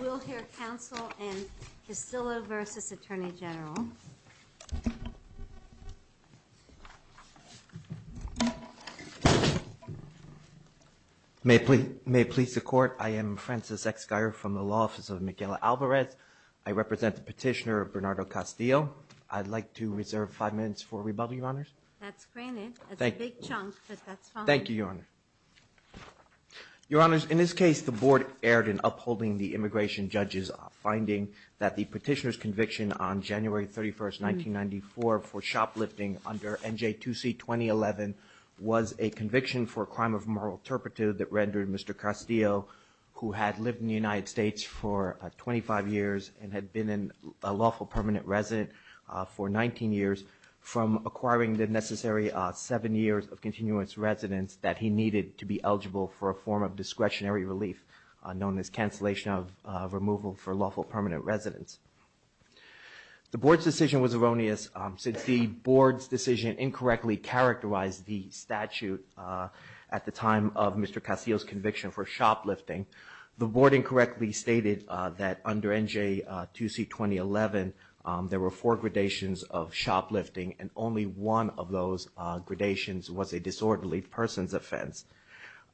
We'll hear counsel in Casillo v. Attorney General. May it please the court, I am Francis X. Guyer from the law office of Miguel Alvarez. I represent the petitioner, Bernardo Castillo. I'd like to reserve five minutes for rebuttal, Your Honors. That's granted. It's a big chunk, but that's fine. Thank you, Your Honor. Your Honors, in this case, the board erred in upholding the immigration judge's finding that the petitioner's conviction on January 31st, 1994 for shoplifting under NJ2C-2011 was a conviction for a crime of moral turpitude that rendered Mr. Castillo, who had lived in the United States for 25 years and had been a lawful permanent resident for 19 years, from acquiring the necessary seven years of continuous residence that he needed to be eligible for a form of discretionary relief known as cancellation of removal for lawful permanent residence. The board's decision was erroneous. Since the board's decision incorrectly characterized the statute at the time of Mr. Castillo's conviction for shoplifting, the board incorrectly stated that under NJ2C-2011, there were four gradations of shoplifting and only one of those gradations was a disorderly person's offense.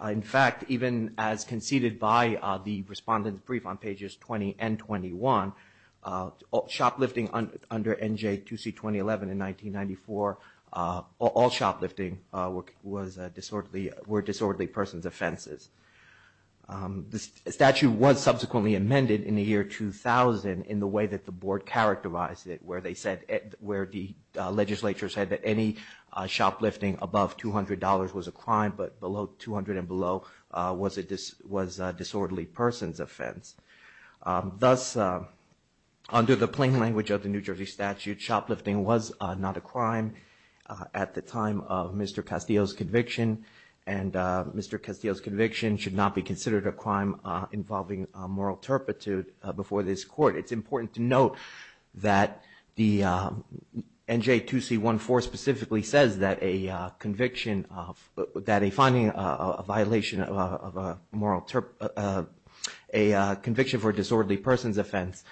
In fact, even as conceded by the Respondent's Brief on pages 20 and 21, shoplifting under NJ2C-2011 in 1994, all shoplifting were disorderly person's offenses. The statute was subsequently amended in the year 2000 in the way that the board characterized it where the legislature said that any shoplifting above $200 was a crime but below $200 and below was a disorderly person's offense. Thus, under the plain language of the New Jersey statute, shoplifting was not a crime at the time of Mr. Castillo's conviction, and Mr. Castillo's conviction should not be considered a crime involving moral turpitude before this court. It's important to note that the NJ2C-14 specifically says that a conviction of, that a finding of a violation of a moral, a conviction for a disorderly person's offense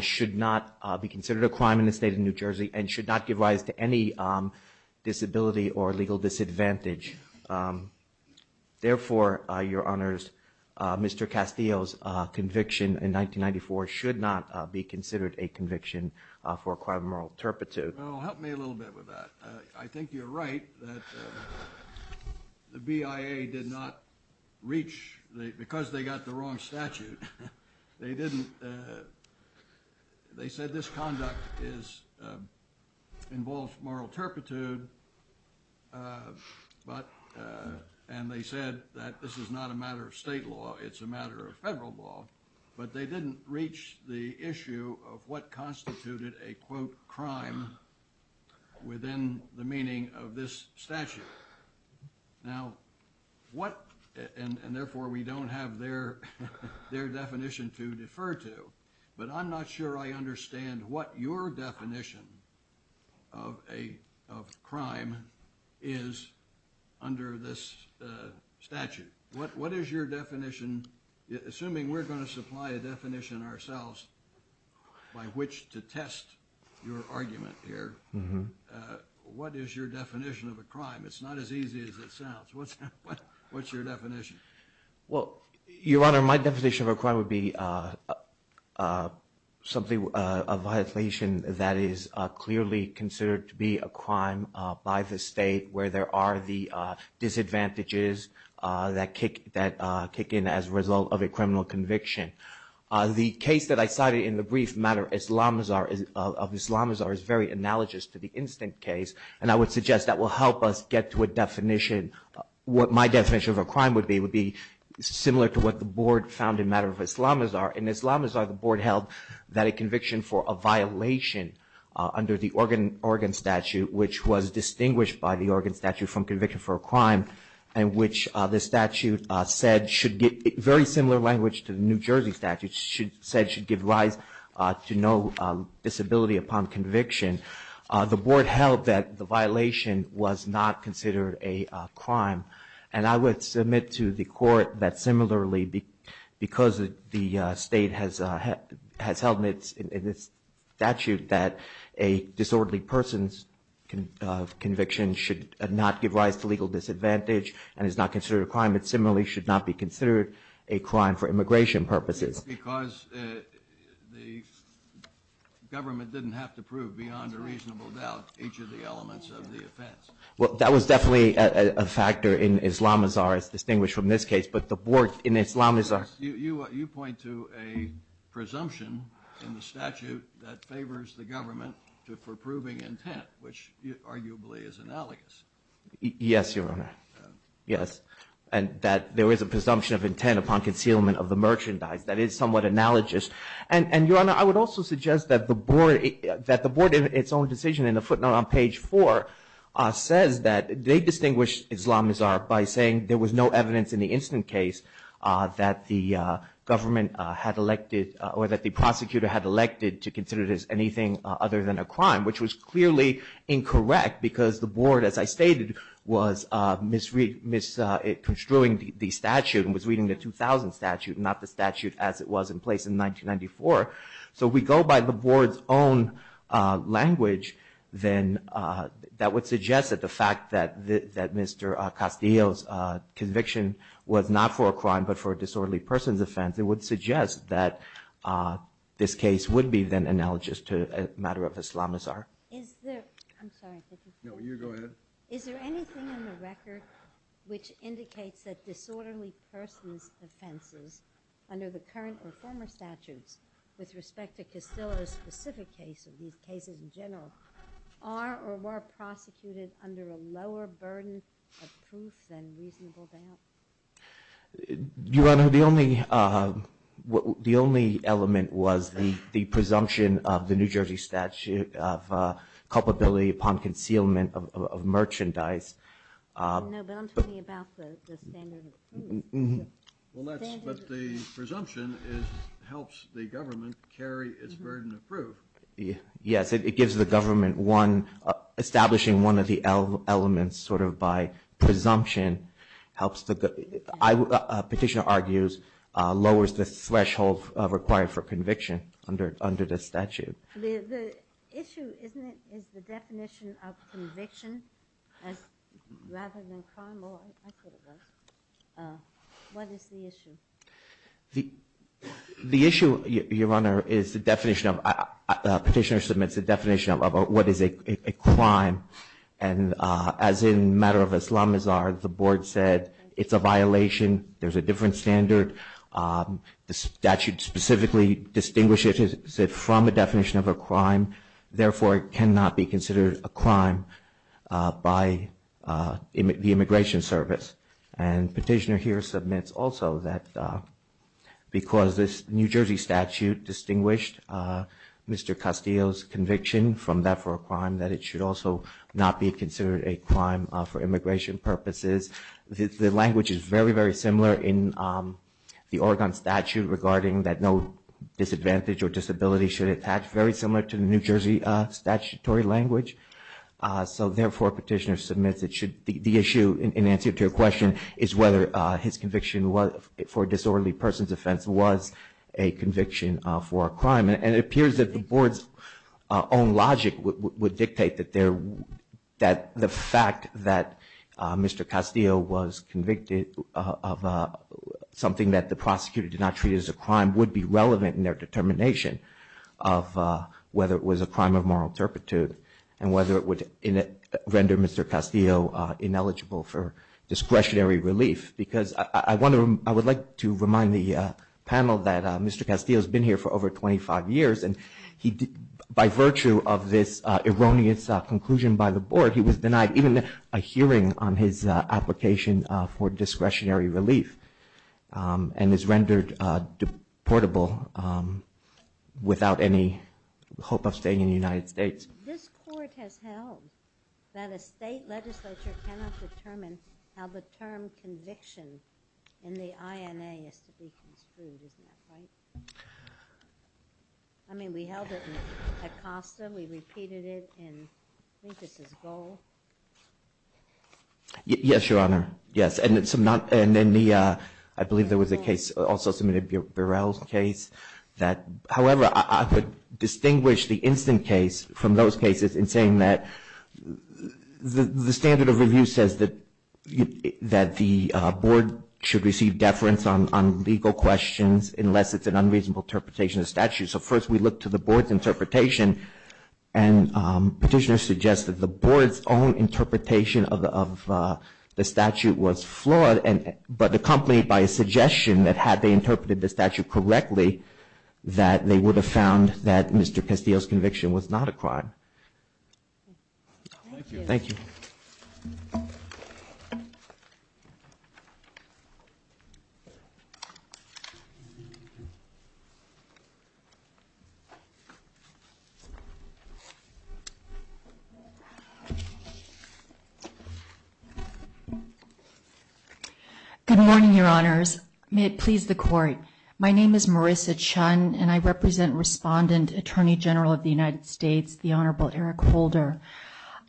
should not be considered a crime in the state of New Jersey and should not give rise to any disability or legal disadvantage. Therefore, Your Honors, Mr. Castillo's conviction in 1994 should not be considered a conviction for a crime of moral turpitude. Well, help me a little bit with that. I think you're right that the BIA did not reach, because they got the wrong statute, they didn't, they said this conduct is, involves moral turpitude, but, and they said that this is not a matter of state law, it's a matter of federal law, but they didn't reach the issue of what constituted a, quote, crime within the meaning of this statute. Now, what, and therefore we don't have their definition to defer to, but I'm not sure I understand what your definition of a crime is under this statute. What is your definition, assuming we're going to supply a definition ourselves by which to test your argument here, what is your definition of a crime? It's not as easy as it sounds. What's your definition? Well, Your Honor, my definition of a crime would be something, a violation that is clearly considered to be a crime by the state where there are the disadvantages that kick in as a result of a criminal conviction. The case that I cited in the brief matter of Islamazar is very analogous to the Instinct case, and I would suggest that will help us get to a definition, what my definition of a crime would be, would be similar to what the Board found in the matter of Islamazar. In Islamazar, the Board held that a conviction for a violation under the Oregon statute, which was distinguished by the Oregon statute from conviction for a crime, and which the statute said should, very similar language to the New Jersey statute, said should give rise to no disability upon conviction. The Board held that the violation was not considered a crime, and I would submit to the Court that similarly, because the state has held in its statute that a disorderly person's conviction should not give rise to legal disadvantage and is not considered a crime, it similarly should not be considered a crime for immigration purposes. Because the government didn't have to prove beyond a reasonable doubt each of the elements of the offense. Well, that was definitely a factor in Islamazar, as distinguished from this case, but the Board in Islamazar You point to a presumption in the statute that favors the government for proving intent, which arguably is analogous. Yes, Your Honor. Yes. And that there is a presumption of intent upon concealment of the merchandise. That is somewhat analogous. And Your Honor, I would also suggest that the Board in its own decision in the footnote on page 4 says that they distinguished Islamazar by saying there was no evidence in the incident case that the government had elected or that the prosecutor had elected to consider it as anything other than a crime, which was clearly incorrect because the Board, as I stated, was misconstruing the statute and was reading the 2000 statute, not the statute as it was in place in 1994. So if we go by the Board's own language, then that would suggest that the fact that Mr. Castillo's conviction was not for a crime, but for a disorderly person's offense, it would suggest that this case would be then analogous to a matter of Islamazar. I'm sorry. No, you go ahead. Is there anything in the record which indicates that disorderly person's offenses under the current or former statutes with respect to Castillo's specific case or these cases in general are or were prosecuted under a lower burden of proof than reasonable doubt? Your Honor, the only element was the presumption of the New Jersey statute of culpability upon concealment of merchandise. No, but I'm talking about the standard of proof. But the presumption helps the government carry its burden of proof. Yes, it gives the government one, establishing one of the elements sort of by presumption helps the, petitioner argues, lowers the threshold required for conviction under the statute. The issue, isn't it, is the definition of conviction as rather than crime? Oh, I could have gone. What is the issue? The issue, Your Honor, is the definition of, petitioner submits the definition of what is a crime. And as in the matter of Islamazar, the board said it's a violation. There's a different standard. The statute specifically distinguishes it from a definition of a crime. Therefore, it cannot be considered a crime by the Immigration Service. And petitioner here submits also that because this New Jersey statute distinguished Mr. Castillo's conviction from that for a crime, that it should also not be considered a crime for immigration purposes. The language is very, very similar in the Oregon statute regarding that no disadvantage or disability should attach, very similar to the New Jersey statutory language. So therefore, petitioner submits it should, the issue in answer to your question is whether his conviction for disorderly person's offense was a conviction for a crime. And it appears that the board's own logic would dictate that there, that the fact that Mr. Castillo was convicted of something that the prosecutor did not treat as a crime would be relevant in their determination of whether it was a crime of moral turpitude and whether it would render Mr. Castillo ineligible for discretionary relief. Because I would like to remind the panel that Mr. Castillo has been here for over 25 years and by virtue of this erroneous conclusion by the board, he was denied even a hearing on his application for discretionary relief and is rendered deportable without any hope of staying in the United States. This court has held that a state legislature cannot determine how the term conviction in the INA is to be construed. Isn't that right? I mean, we held it in Acosta. We repeated it in, I think this is Goal. Yes, Your Honor. Yes. And in the, I believe there was a case also submitted, Burrell's case, that, however, I could distinguish the instant case from those cases in saying that the standard of review says that the board should receive deference on legal questions unless it's an unreasonable interpretation of statute. So first we look to the board's interpretation and petitioners suggest that the board's own interpretation of the statute was flawed but accompanied by a suggestion that had they interpreted the statute correctly that they would have found that Mr. Castillo's conviction was not a crime. Thank you. Thank you. Good morning, Your Honors. May it please the Court. My name is Marissa Chun, and I represent Respondent Attorney General of the United States, the Honorable Eric Holder.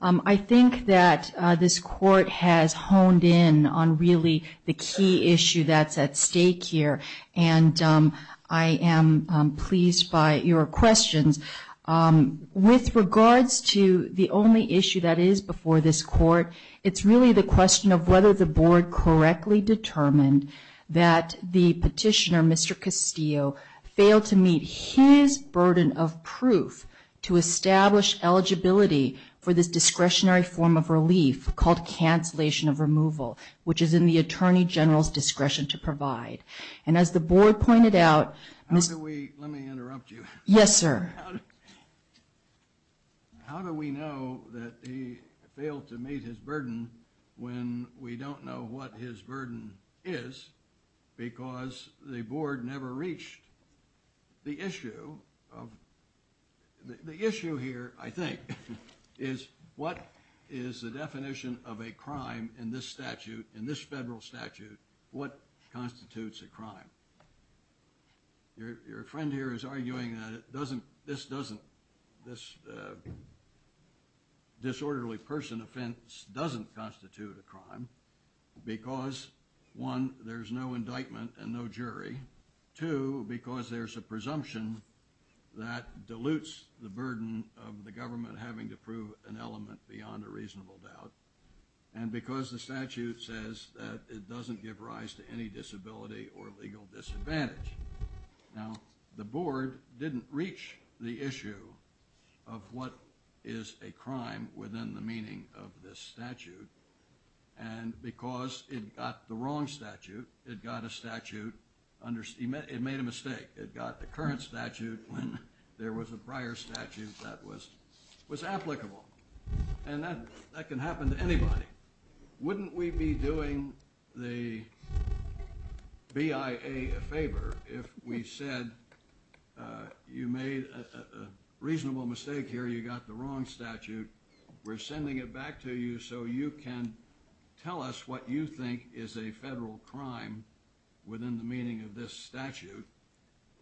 I think that this court has honed in on really the key issue that's at stake here, and I am pleased by your questions. With regards to the only issue that is before this court, it's really the question of whether the board correctly determined that the petitioner, Mr. Castillo, failed to meet his burden of proof to establish eligibility for this discretionary form of relief called cancellation of removal, which is in the Attorney General's discretion to provide. And as the board pointed out, Mr. How do we, let me interrupt you. Yes, sir. How do we know that he failed to meet his burden when we don't know what his burden is because the board never reached the issue of, the issue here, I think, is what is the definition of a crime in this statute, in this federal statute, what constitutes a crime? Your friend here is arguing that this disorderly person offense doesn't constitute a crime because, one, there's no indictment and no jury, two, because there's a presumption that dilutes the burden of the government having to prove an element beyond a reasonable doubt, and because the statute says that it doesn't give rise to any disability or legal disadvantage. Now, the board didn't reach the issue of what is a crime within the meaning of this statute, and because it got the wrong statute, it got a statute, it made a mistake. It got the current statute when there was a prior statute that was applicable. And that can happen to anybody. Wouldn't we be doing the BIA a favor if we said, you made a reasonable mistake here, you got the wrong statute, we're sending it back to you so you can tell us what you think is a federal crime within the meaning of this statute,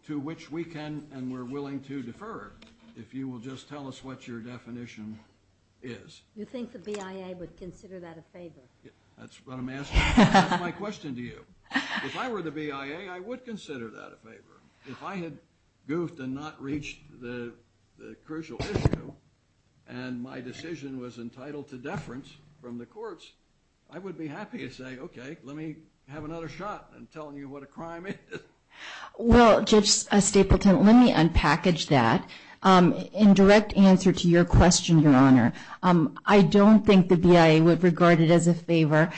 to which we can and we're willing to defer if you will just tell us what your definition is? You think the BIA would consider that a favor? That's what I'm asking. That's my question to you. If I were the BIA, I would consider that a favor. If I had goofed and not reached the crucial issue, and my decision was entitled to deference from the courts, I would be happy to say, okay, let me have another shot at telling you what a crime is. Well, Judge Stapleton, let me unpackage that. In direct answer to your question, Your Honor, I don't think the BIA would regard it as a favor,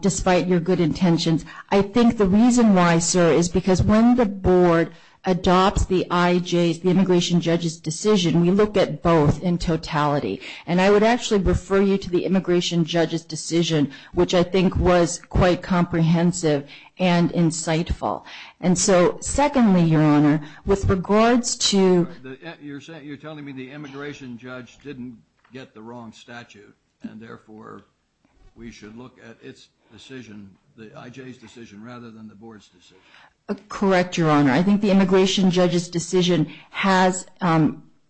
despite your good intentions. I think the reason why, sir, is because when the board adopts the IJ, the immigration judge's decision, we look at both in totality. which I think was quite comprehensive and insightful. And so secondly, Your Honor, with regards to... You're telling me the immigration judge didn't get the wrong statute, and therefore we should look at its decision, the IJ's decision, rather than the board's decision. Correct, Your Honor. I think the immigration judge's decision has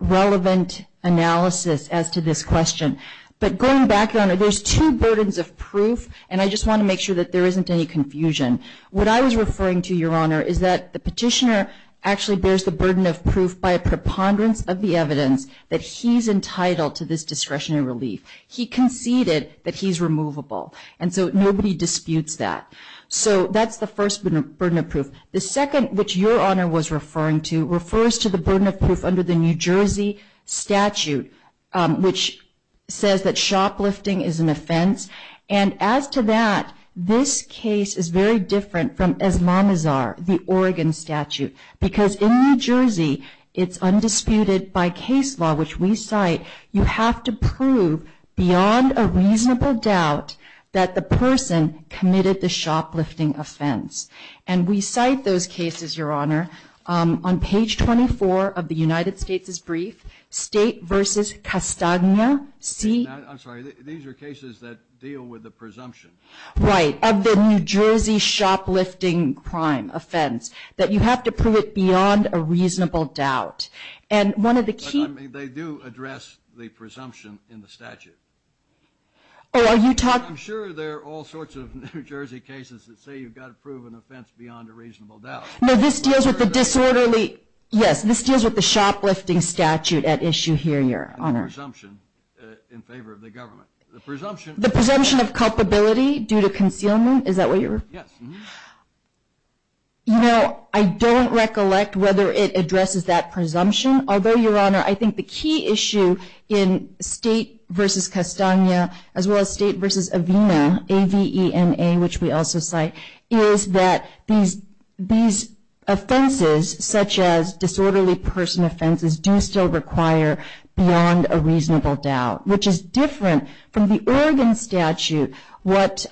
relevant analysis as to this question. But going back, Your Honor, there's two burdens of proof, and I just want to make sure that there isn't any confusion. What I was referring to, Your Honor, is that the petitioner actually bears the burden of proof by a preponderance of the evidence that he's entitled to this discretionary relief. He conceded that he's removable, and so nobody disputes that. So that's the first burden of proof. The second, which Your Honor was referring to, refers to the burden of proof under the New Jersey statute, which says that shoplifting is an offense. And as to that, this case is very different from Islamazar, the Oregon statute, because in New Jersey it's undisputed by case law, which we cite. You have to prove beyond a reasonable doubt that the person committed the shoplifting offense. And we cite those cases, Your Honor. On page 24 of the United States' brief, State v. Castagna, see? I'm sorry. These are cases that deal with the presumption. Right, of the New Jersey shoplifting crime offense, that you have to prove it beyond a reasonable doubt. And one of the key – But, I mean, they do address the presumption in the statute. Oh, are you talking – I'm sure there are all sorts of New Jersey cases that say you've got to prove an offense beyond a reasonable doubt. No, this deals with the disorderly – Yes, this deals with the shoplifting statute at issue here, Your Honor. And the presumption in favor of the government. The presumption – The presumption of culpability due to concealment? Is that what you're – Yes. You know, I don't recollect whether it addresses that presumption. Although, Your Honor, I think the key issue in State v. Castagna, as well as State v. Avena, A-V-E-N-A, which we also cite, is that these offenses, such as disorderly person offenses, do still require beyond a reasonable doubt, which is different from the Oregon statute. What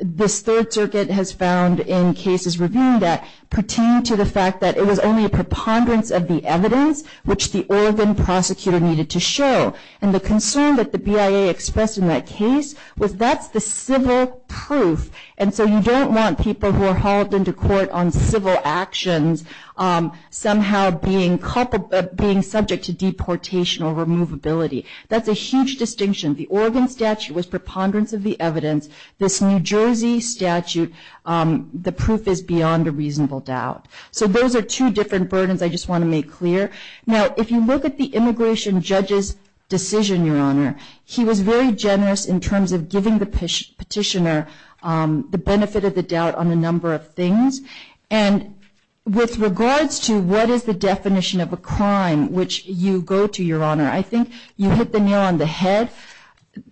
this Third Circuit has found in cases reviewing that pertained to the fact that it was only a preponderance of the evidence, which the Oregon prosecutor needed to show. And the concern that the BIA expressed in that case was that's the civil proof. And so you don't want people who are hauled into court on civil actions somehow being subject to deportation or removability. That's a huge distinction. The Oregon statute was preponderance of the evidence. This New Jersey statute, the proof is beyond a reasonable doubt. So those are two different burdens I just want to make clear. He was very generous in terms of giving the petitioner the benefit of the doubt on a number of things. And with regards to what is the definition of a crime which you go to, Your Honor, I think you hit the nail on the head.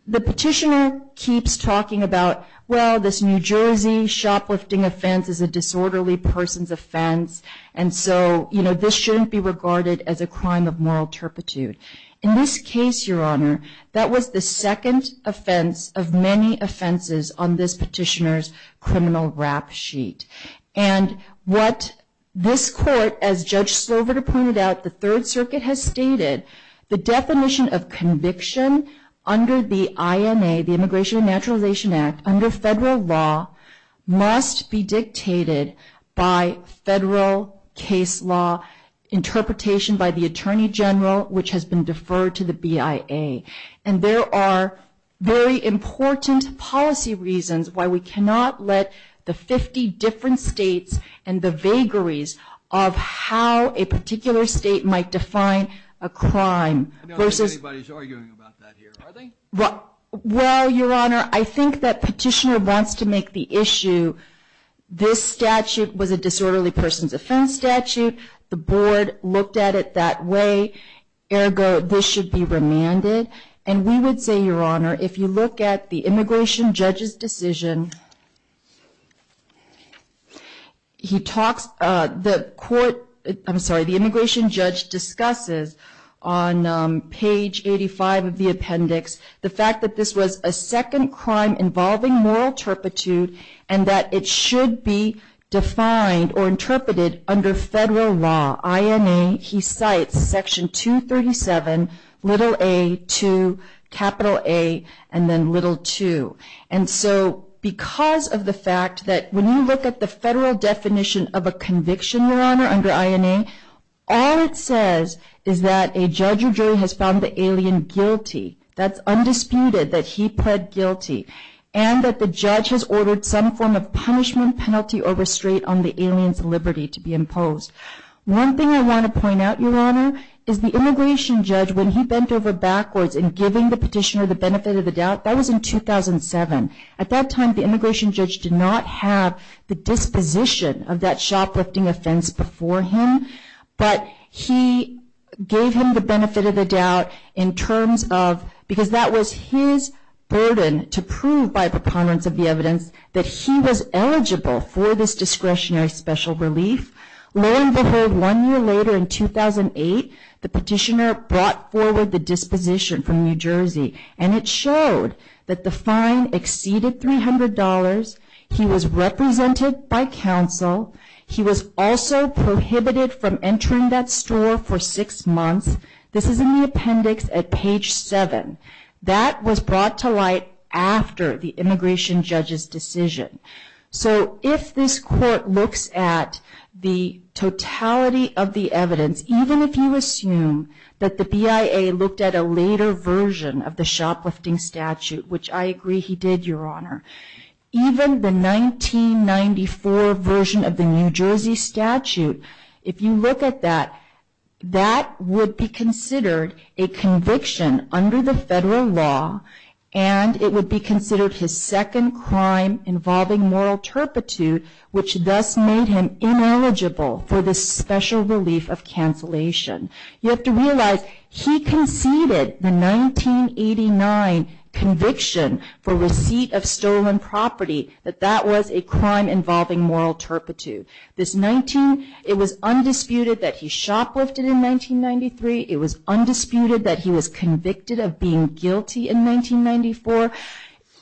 The petitioner keeps talking about, well, this New Jersey shoplifting offense is a disorderly person's offense. And so, you know, this shouldn't be regarded as a crime of moral turpitude. In this case, Your Honor, that was the second offense of many offenses on this petitioner's criminal rap sheet. And what this court, as Judge Sloverter pointed out, the Third Circuit has stated, the definition of conviction under the INA, the Immigration and Naturalization Act, under federal law must be dictated by federal case law interpretation by the Attorney General, which has been deferred to the BIA. And there are very important policy reasons why we cannot let the 50 different states and the vagaries of how a particular state might define a crime. I don't think anybody's arguing about that here, are they? Well, Your Honor, I think that petitioner wants to make the issue, this statute was a disorderly person's offense statute. The board looked at it that way. Ergo, this should be remanded. And we would say, Your Honor, if you look at the immigration judge's decision, he talks, the court, I'm sorry, the immigration judge discusses on page 85 of the appendix the fact that this was a second crime involving moral turpitude and that it should be defined or interpreted under federal law, INA. He cites Section 237, little a, 2, capital A, and then little 2. And so because of the fact that when you look at the federal definition of a conviction, Your Honor, under INA, all it says is that a judge or jury has found the alien guilty. That's undisputed, that he pled guilty. And that the judge has ordered some form of punishment, penalty, or restraint on the alien's liberty to be imposed. One thing I want to point out, Your Honor, is the immigration judge, when he bent over backwards in giving the petitioner the benefit of the doubt, that was in 2007. At that time, the immigration judge did not have the disposition of that shoplifting offense before him, but he gave him the benefit of the doubt in terms of, because that was his burden to prove by preponderance of the evidence that he was eligible for this discretionary special relief. Lo and behold, one year later in 2008, the petitioner brought forward the disposition from New Jersey, and it showed that the fine exceeded $300. He was represented by counsel. He was also prohibited from entering that store for six months. This is in the appendix at page 7. That was brought to light after the immigration judge's decision. So if this court looks at the totality of the evidence, even if you assume that the BIA looked at a later version of the shoplifting statute, which I agree he did, Your Honor, even the 1994 version of the New Jersey statute, if you look at that, that would be considered a conviction under the federal law, and it would be considered his second crime involving moral turpitude, which thus made him ineligible for this special relief of cancellation. You have to realize he conceded the 1989 conviction for receipt of stolen property, that that was a crime involving moral turpitude. This 19, it was undisputed that he shoplifted in 1993. It was undisputed that he was convicted of being guilty in 1994.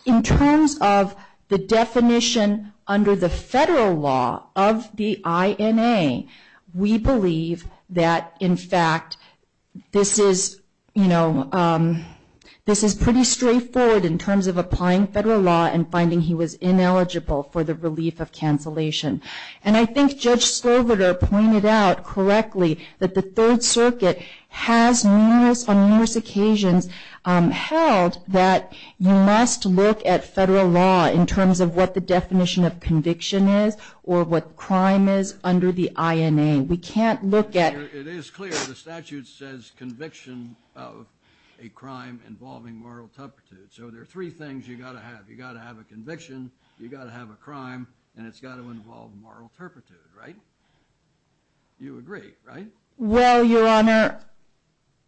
In terms of the definition under the federal law of the INA, we believe that, in fact, this is, you know, this is pretty straightforward in terms of applying federal law and finding he was ineligible for the relief of cancellation. And I think Judge Sloverter pointed out correctly that the Third Circuit has on numerous occasions held that you must look at federal law in terms of what the definition of conviction is or what crime is under the INA. We can't look at... It is clear the statute says conviction of a crime involving moral turpitude, so there are three things you've got to have. You've got to have a conviction, you've got to have a crime, and it's got to involve moral turpitude, right? You agree, right? Well, Your Honor,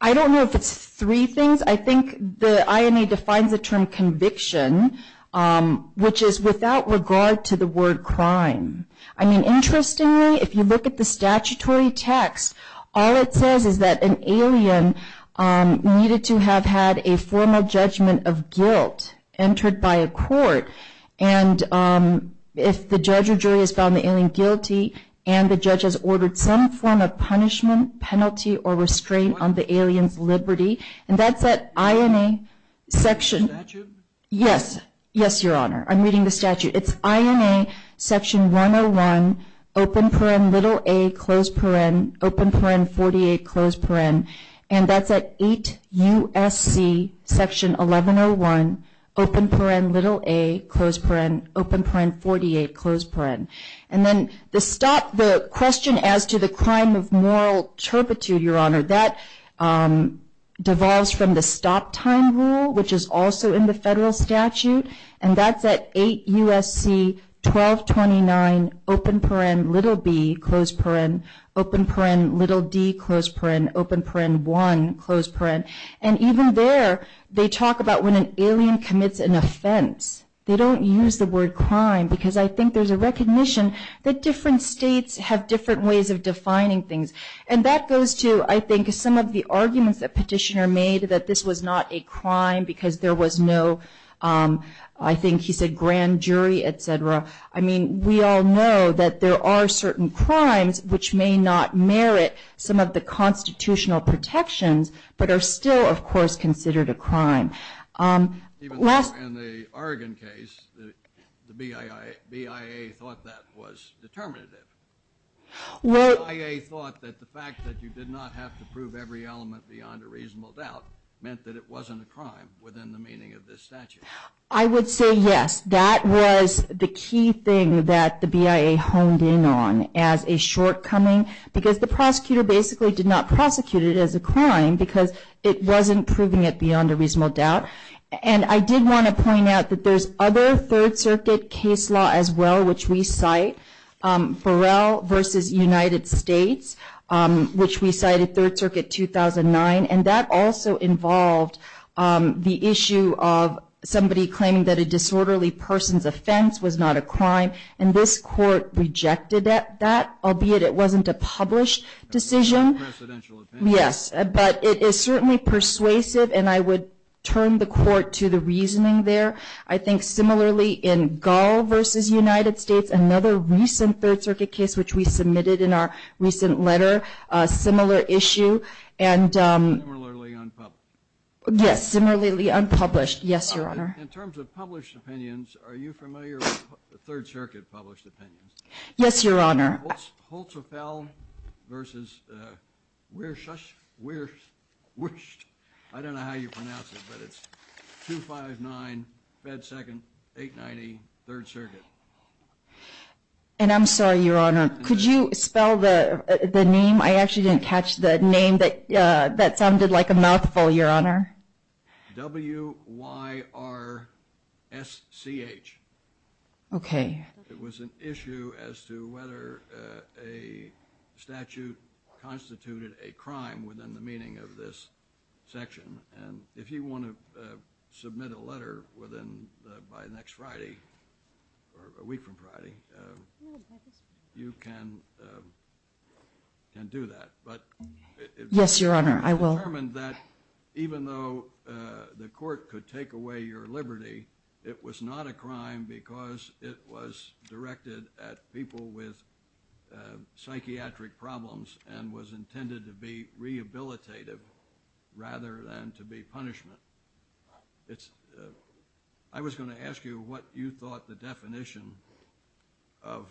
I don't know if it's three things. I think the INA defines the term conviction, which is without regard to the word crime. I mean, interestingly, if you look at the statutory text, all it says is that an alien needed to have had a formal judgment of guilt entered by a court, and if the judge or jury has found the alien guilty and the judge has ordered some form of punishment, penalty, or restraint on the alien's liberty, and that's that INA section... Statute? Yes. Yes, Your Honor. I'm reading the statute. It's INA section 101, open paren, little a, close paren, open paren, 48, close paren, and that's at 8 U.S.C. section 1101, open paren, little a, close paren, open paren, 48, close paren. And then the question as to the crime of moral turpitude, Your Honor, that devolves from the stop time rule, which is also in the federal statute, and that's at 8 U.S.C. 1229, open paren, little b, close paren, open paren, little d, close paren, open paren 1, close paren. And even there, they talk about when an alien commits an offense. They don't use the word crime because I think there's a recognition that different states have different ways of defining things, and that goes to, I think, some of the arguments that Petitioner made, that this was not a crime because there was no, I think he said grand jury, et cetera. I mean, we all know that there are certain crimes which may not merit some of the constitutional protections, but are still, of course, considered a crime. Even though in the Oregon case, the BIA thought that was determinative. The BIA thought that the fact that you did not have to prove every element beyond a reasonable doubt meant that it wasn't a crime within the meaning of this statute. I would say yes. That was the key thing that the BIA honed in on as a shortcoming because the prosecutor basically did not prosecute it as a crime because it wasn't proving it beyond a reasonable doubt. And I did want to point out that there's other Third Circuit case law as well, which we cite, Burrell v. United States, which we cited Third Circuit 2009, and that also involved the issue of somebody claiming that a disorderly person's offense was not a crime, and this court rejected that, albeit it wasn't a published decision. Yes, but it is certainly persuasive, and I would turn the court to the reasoning there. I think similarly in Gall v. United States, another recent Third Circuit case, which we submitted in our recent letter, a similar issue. Similarly unpublished. Yes, similarly unpublished. Yes, Your Honor. In terms of published opinions, are you familiar with Third Circuit published opinions? Yes, Your Honor. Holtzfell v. Wirschst, I don't know how you pronounce it, but it's 259 Fed 2nd, 890 Third Circuit. And I'm sorry, Your Honor, could you spell the name? I actually didn't catch the name that sounded like a mouthful, Your Honor. W-Y-R-S-C-H. Okay. It was an issue as to whether a statute constituted a crime within the meaning of this section, and if you want to submit a letter by next Friday or a week from Friday, you can do that. Yes, Your Honor, I will. You determined that even though the court could take away your liberty, it was not a crime because it was directed at people with psychiatric problems and was intended to be rehabilitative rather than to be punishment. I was going to ask you what you thought the definition of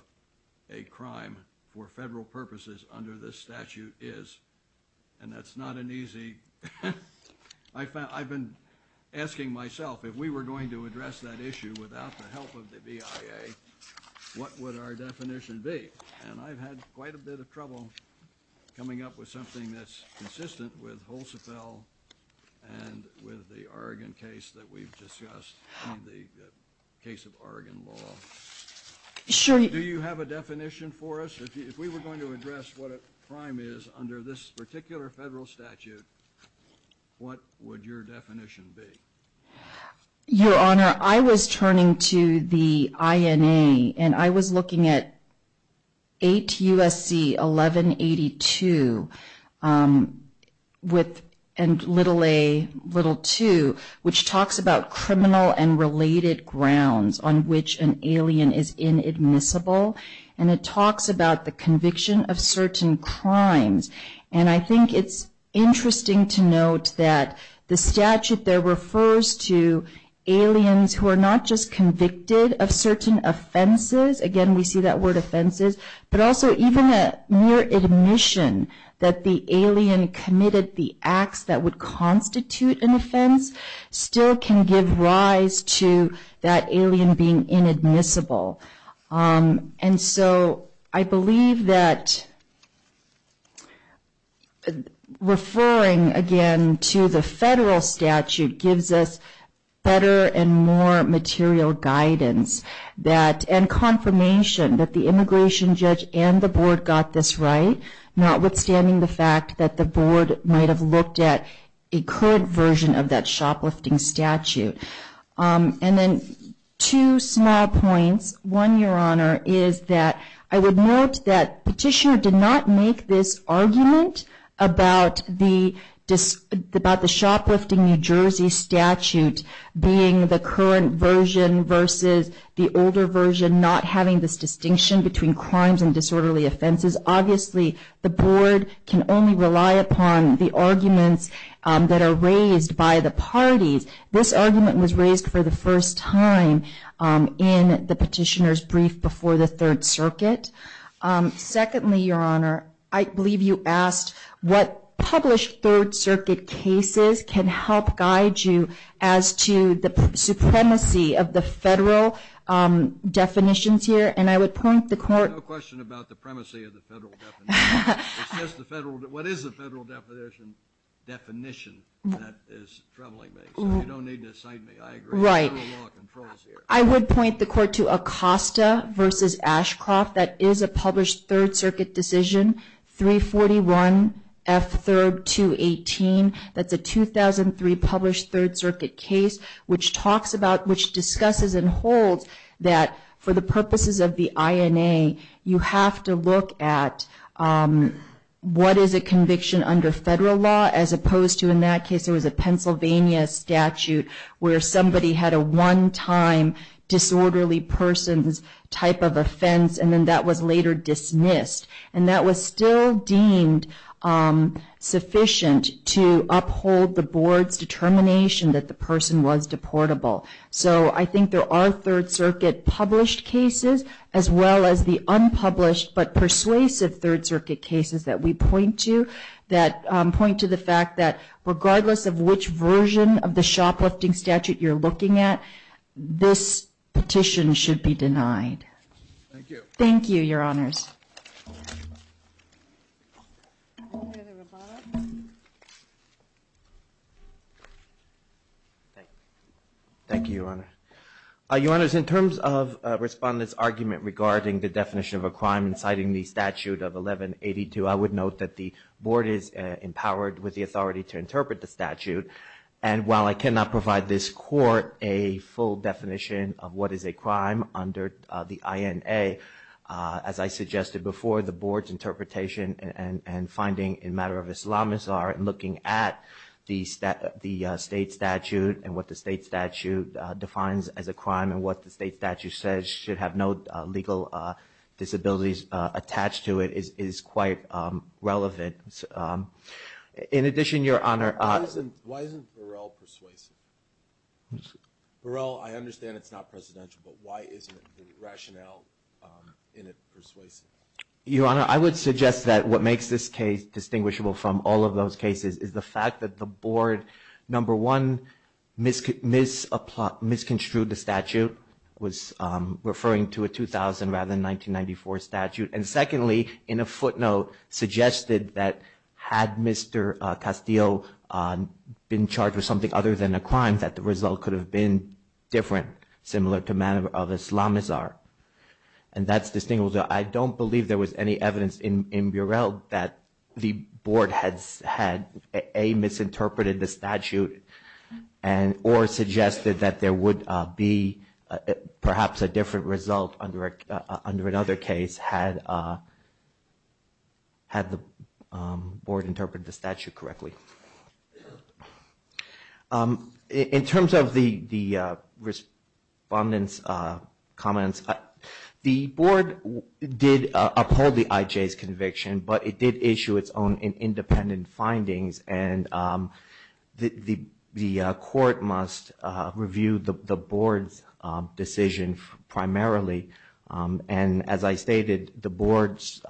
a crime for federal purposes under this statute is, and that's not an easy – I've been asking myself, if we were going to address that issue without the help of the BIA, what would our definition be? And I've had quite a bit of trouble coming up with something that's consistent with Holtzfell and with the Oregon case that we've discussed in the case of Oregon law. Do you have a definition for us? If we were going to address what a crime is under this particular federal statute, what would your definition be? Your Honor, I was turning to the INA, and I was looking at 8 U.S.C. 1182 and little a, little two, which talks about criminal and related grounds on which an alien is inadmissible, and it talks about the conviction of certain crimes. And I think it's interesting to note that the statute there refers to aliens who are not just convicted of certain offenses – again, we see that word offenses – but also even a mere admission that the alien committed the acts that would constitute an offense still can give rise to that alien being inadmissible. And so I believe that referring again to the federal statute gives us better and more material guidance and confirmation that the immigration judge and the board got this right, notwithstanding the fact that the board might have looked at a current version of that shoplifting statute. And then two small points. One, Your Honor, is that I would note that Petitioner did not make this argument about the shoplifting New Jersey statute being the current version versus the older version, because obviously the board can only rely upon the arguments that are raised by the parties. This argument was raised for the first time in the Petitioner's brief before the Third Circuit. Secondly, Your Honor, I believe you asked what published Third Circuit cases can help guide you as to the supremacy of the federal definitions here. I have a question about the supremacy of the federal definition. What is the federal definition that is troubling me? So you don't need to cite me, I agree. There's a lot of law controls here. I would point the Court to Acosta v. Ashcroft. That is a published Third Circuit decision, 341 F. 3rd. 218. That's a 2003 published Third Circuit case which discusses and holds that for the purposes of the INA, you have to look at what is a conviction under federal law as opposed to, in that case, it was a Pennsylvania statute where somebody had a one-time disorderly person's type of offense and then that was later dismissed. And that was still deemed sufficient to uphold the board's determination that the person was deportable. So I think there are Third Circuit published cases as well as the unpublished but persuasive Third Circuit cases that we point to that point to the fact that regardless of which version of the shoplifting statute you're looking at, this petition should be denied. Thank you. Thank you, Your Honors. Thank you, Your Honor. Your Honors, in terms of Respondent's argument regarding the definition of a crime inciting the statute of 1182, I would note that the board is empowered with the authority to interpret the statute. And while I cannot provide this Court a full definition of what is a crime under the INA, as I suggested before, the board's interpretation and finding in matter of Islamist art in looking at the state statute and what the state statute defines as a crime and what the state statute says should have no legal disabilities attached to it is quite relevant. In addition, Your Honor, Why isn't Burrell persuasive? Burrell, I understand it's not presidential, but why isn't the rationale in it persuasive? Your Honor, I would suggest that what makes this case distinguishable from all of those cases is the fact that the board, number one, misconstrued the statute, was referring to a 2000 rather than 1994 statute. And secondly, in a footnote, suggested that had Mr. Castillo been charged with something other than a crime, that the result could have been different, similar to manner of Islamist art. And that's distinguishable. I don't believe there was any evidence in Burrell that the board had, A, misinterpreted the statute or suggested that there would be perhaps a different result under another case had the board interpreted the statute correctly. In terms of the respondents' comments, the board did uphold the IJ's conviction, but it did issue its own independent findings. And the court must review the board's decision primarily. And as I stated, the board's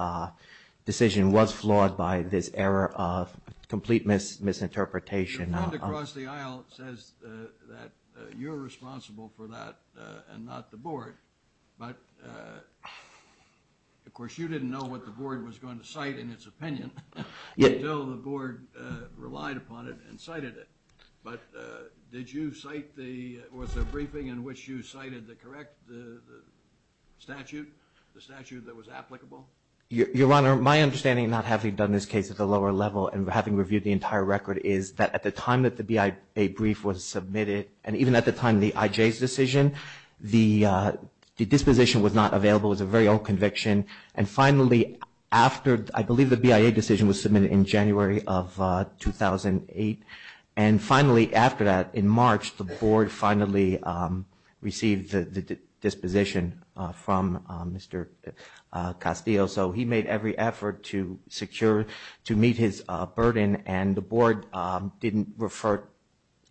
decision was flawed by this error of complete misinterpretation. Your friend across the aisle says that you're responsible for that and not the board. But, of course, you didn't know what the board was going to cite in its opinion until the board relied upon it and cited it. But did you cite the, was the briefing in which you cited the correct statute, the statute that was applicable? Your Honor, my understanding, not having done this case at the lower level and having reviewed the entire record, is that at the time that the BIA brief was submitted, and even at the time of the IJ's decision, the disposition was not available. It was a very old conviction. And finally, after, I believe the BIA decision was submitted in January of 2008, and finally after that, in March, the board finally received the disposition from Mr. Castillo. So he made every effort to secure, to meet his burden, and the board didn't refer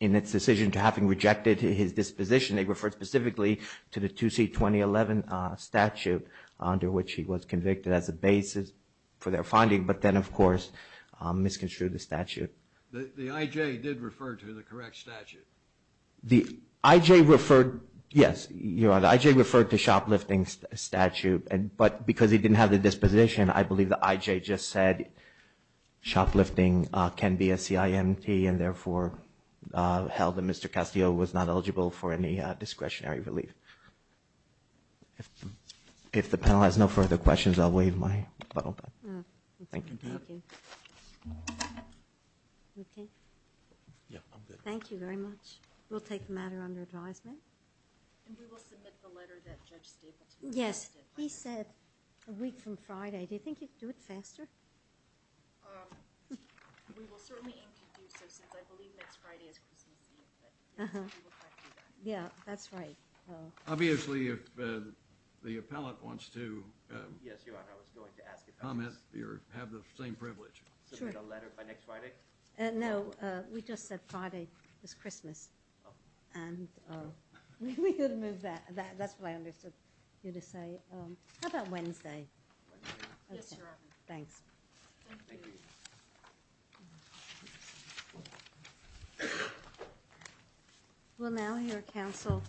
in its decision to having rejected his disposition. They referred specifically to the 2C2011 statute under which he was convicted as a basis for their finding, but then, of course, misconstrued the statute. The IJ did refer to the correct statute. The IJ referred, yes, Your Honor, the IJ referred to shoplifting statute, but because he didn't have the disposition, I believe the IJ just said shoplifting can be a CIMT and therefore held that Mr. Castillo was not eligible for any discretionary relief. If the panel has no further questions, I'll waive my button. Thank you. Thank you very much. We'll take the matter under advisement. And we will submit the letter that Judge Staple did. Yes, he said a week from Friday. Do you think you could do it faster? We will certainly aim to do so since I believe next Friday is Christmas Eve. Yeah, that's right. Obviously, if the appellate wants to. Yes, Your Honor, I was going to ask if I could have the same privilege. Submit a letter by next Friday? No, we just said Friday is Christmas. Oh. And we could move that. That's what I understood you to say. How about Wednesday? Wednesday. Yes, Your Honor. Thanks. Thank you. We'll now hear counsel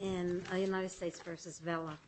in United States v. Vela.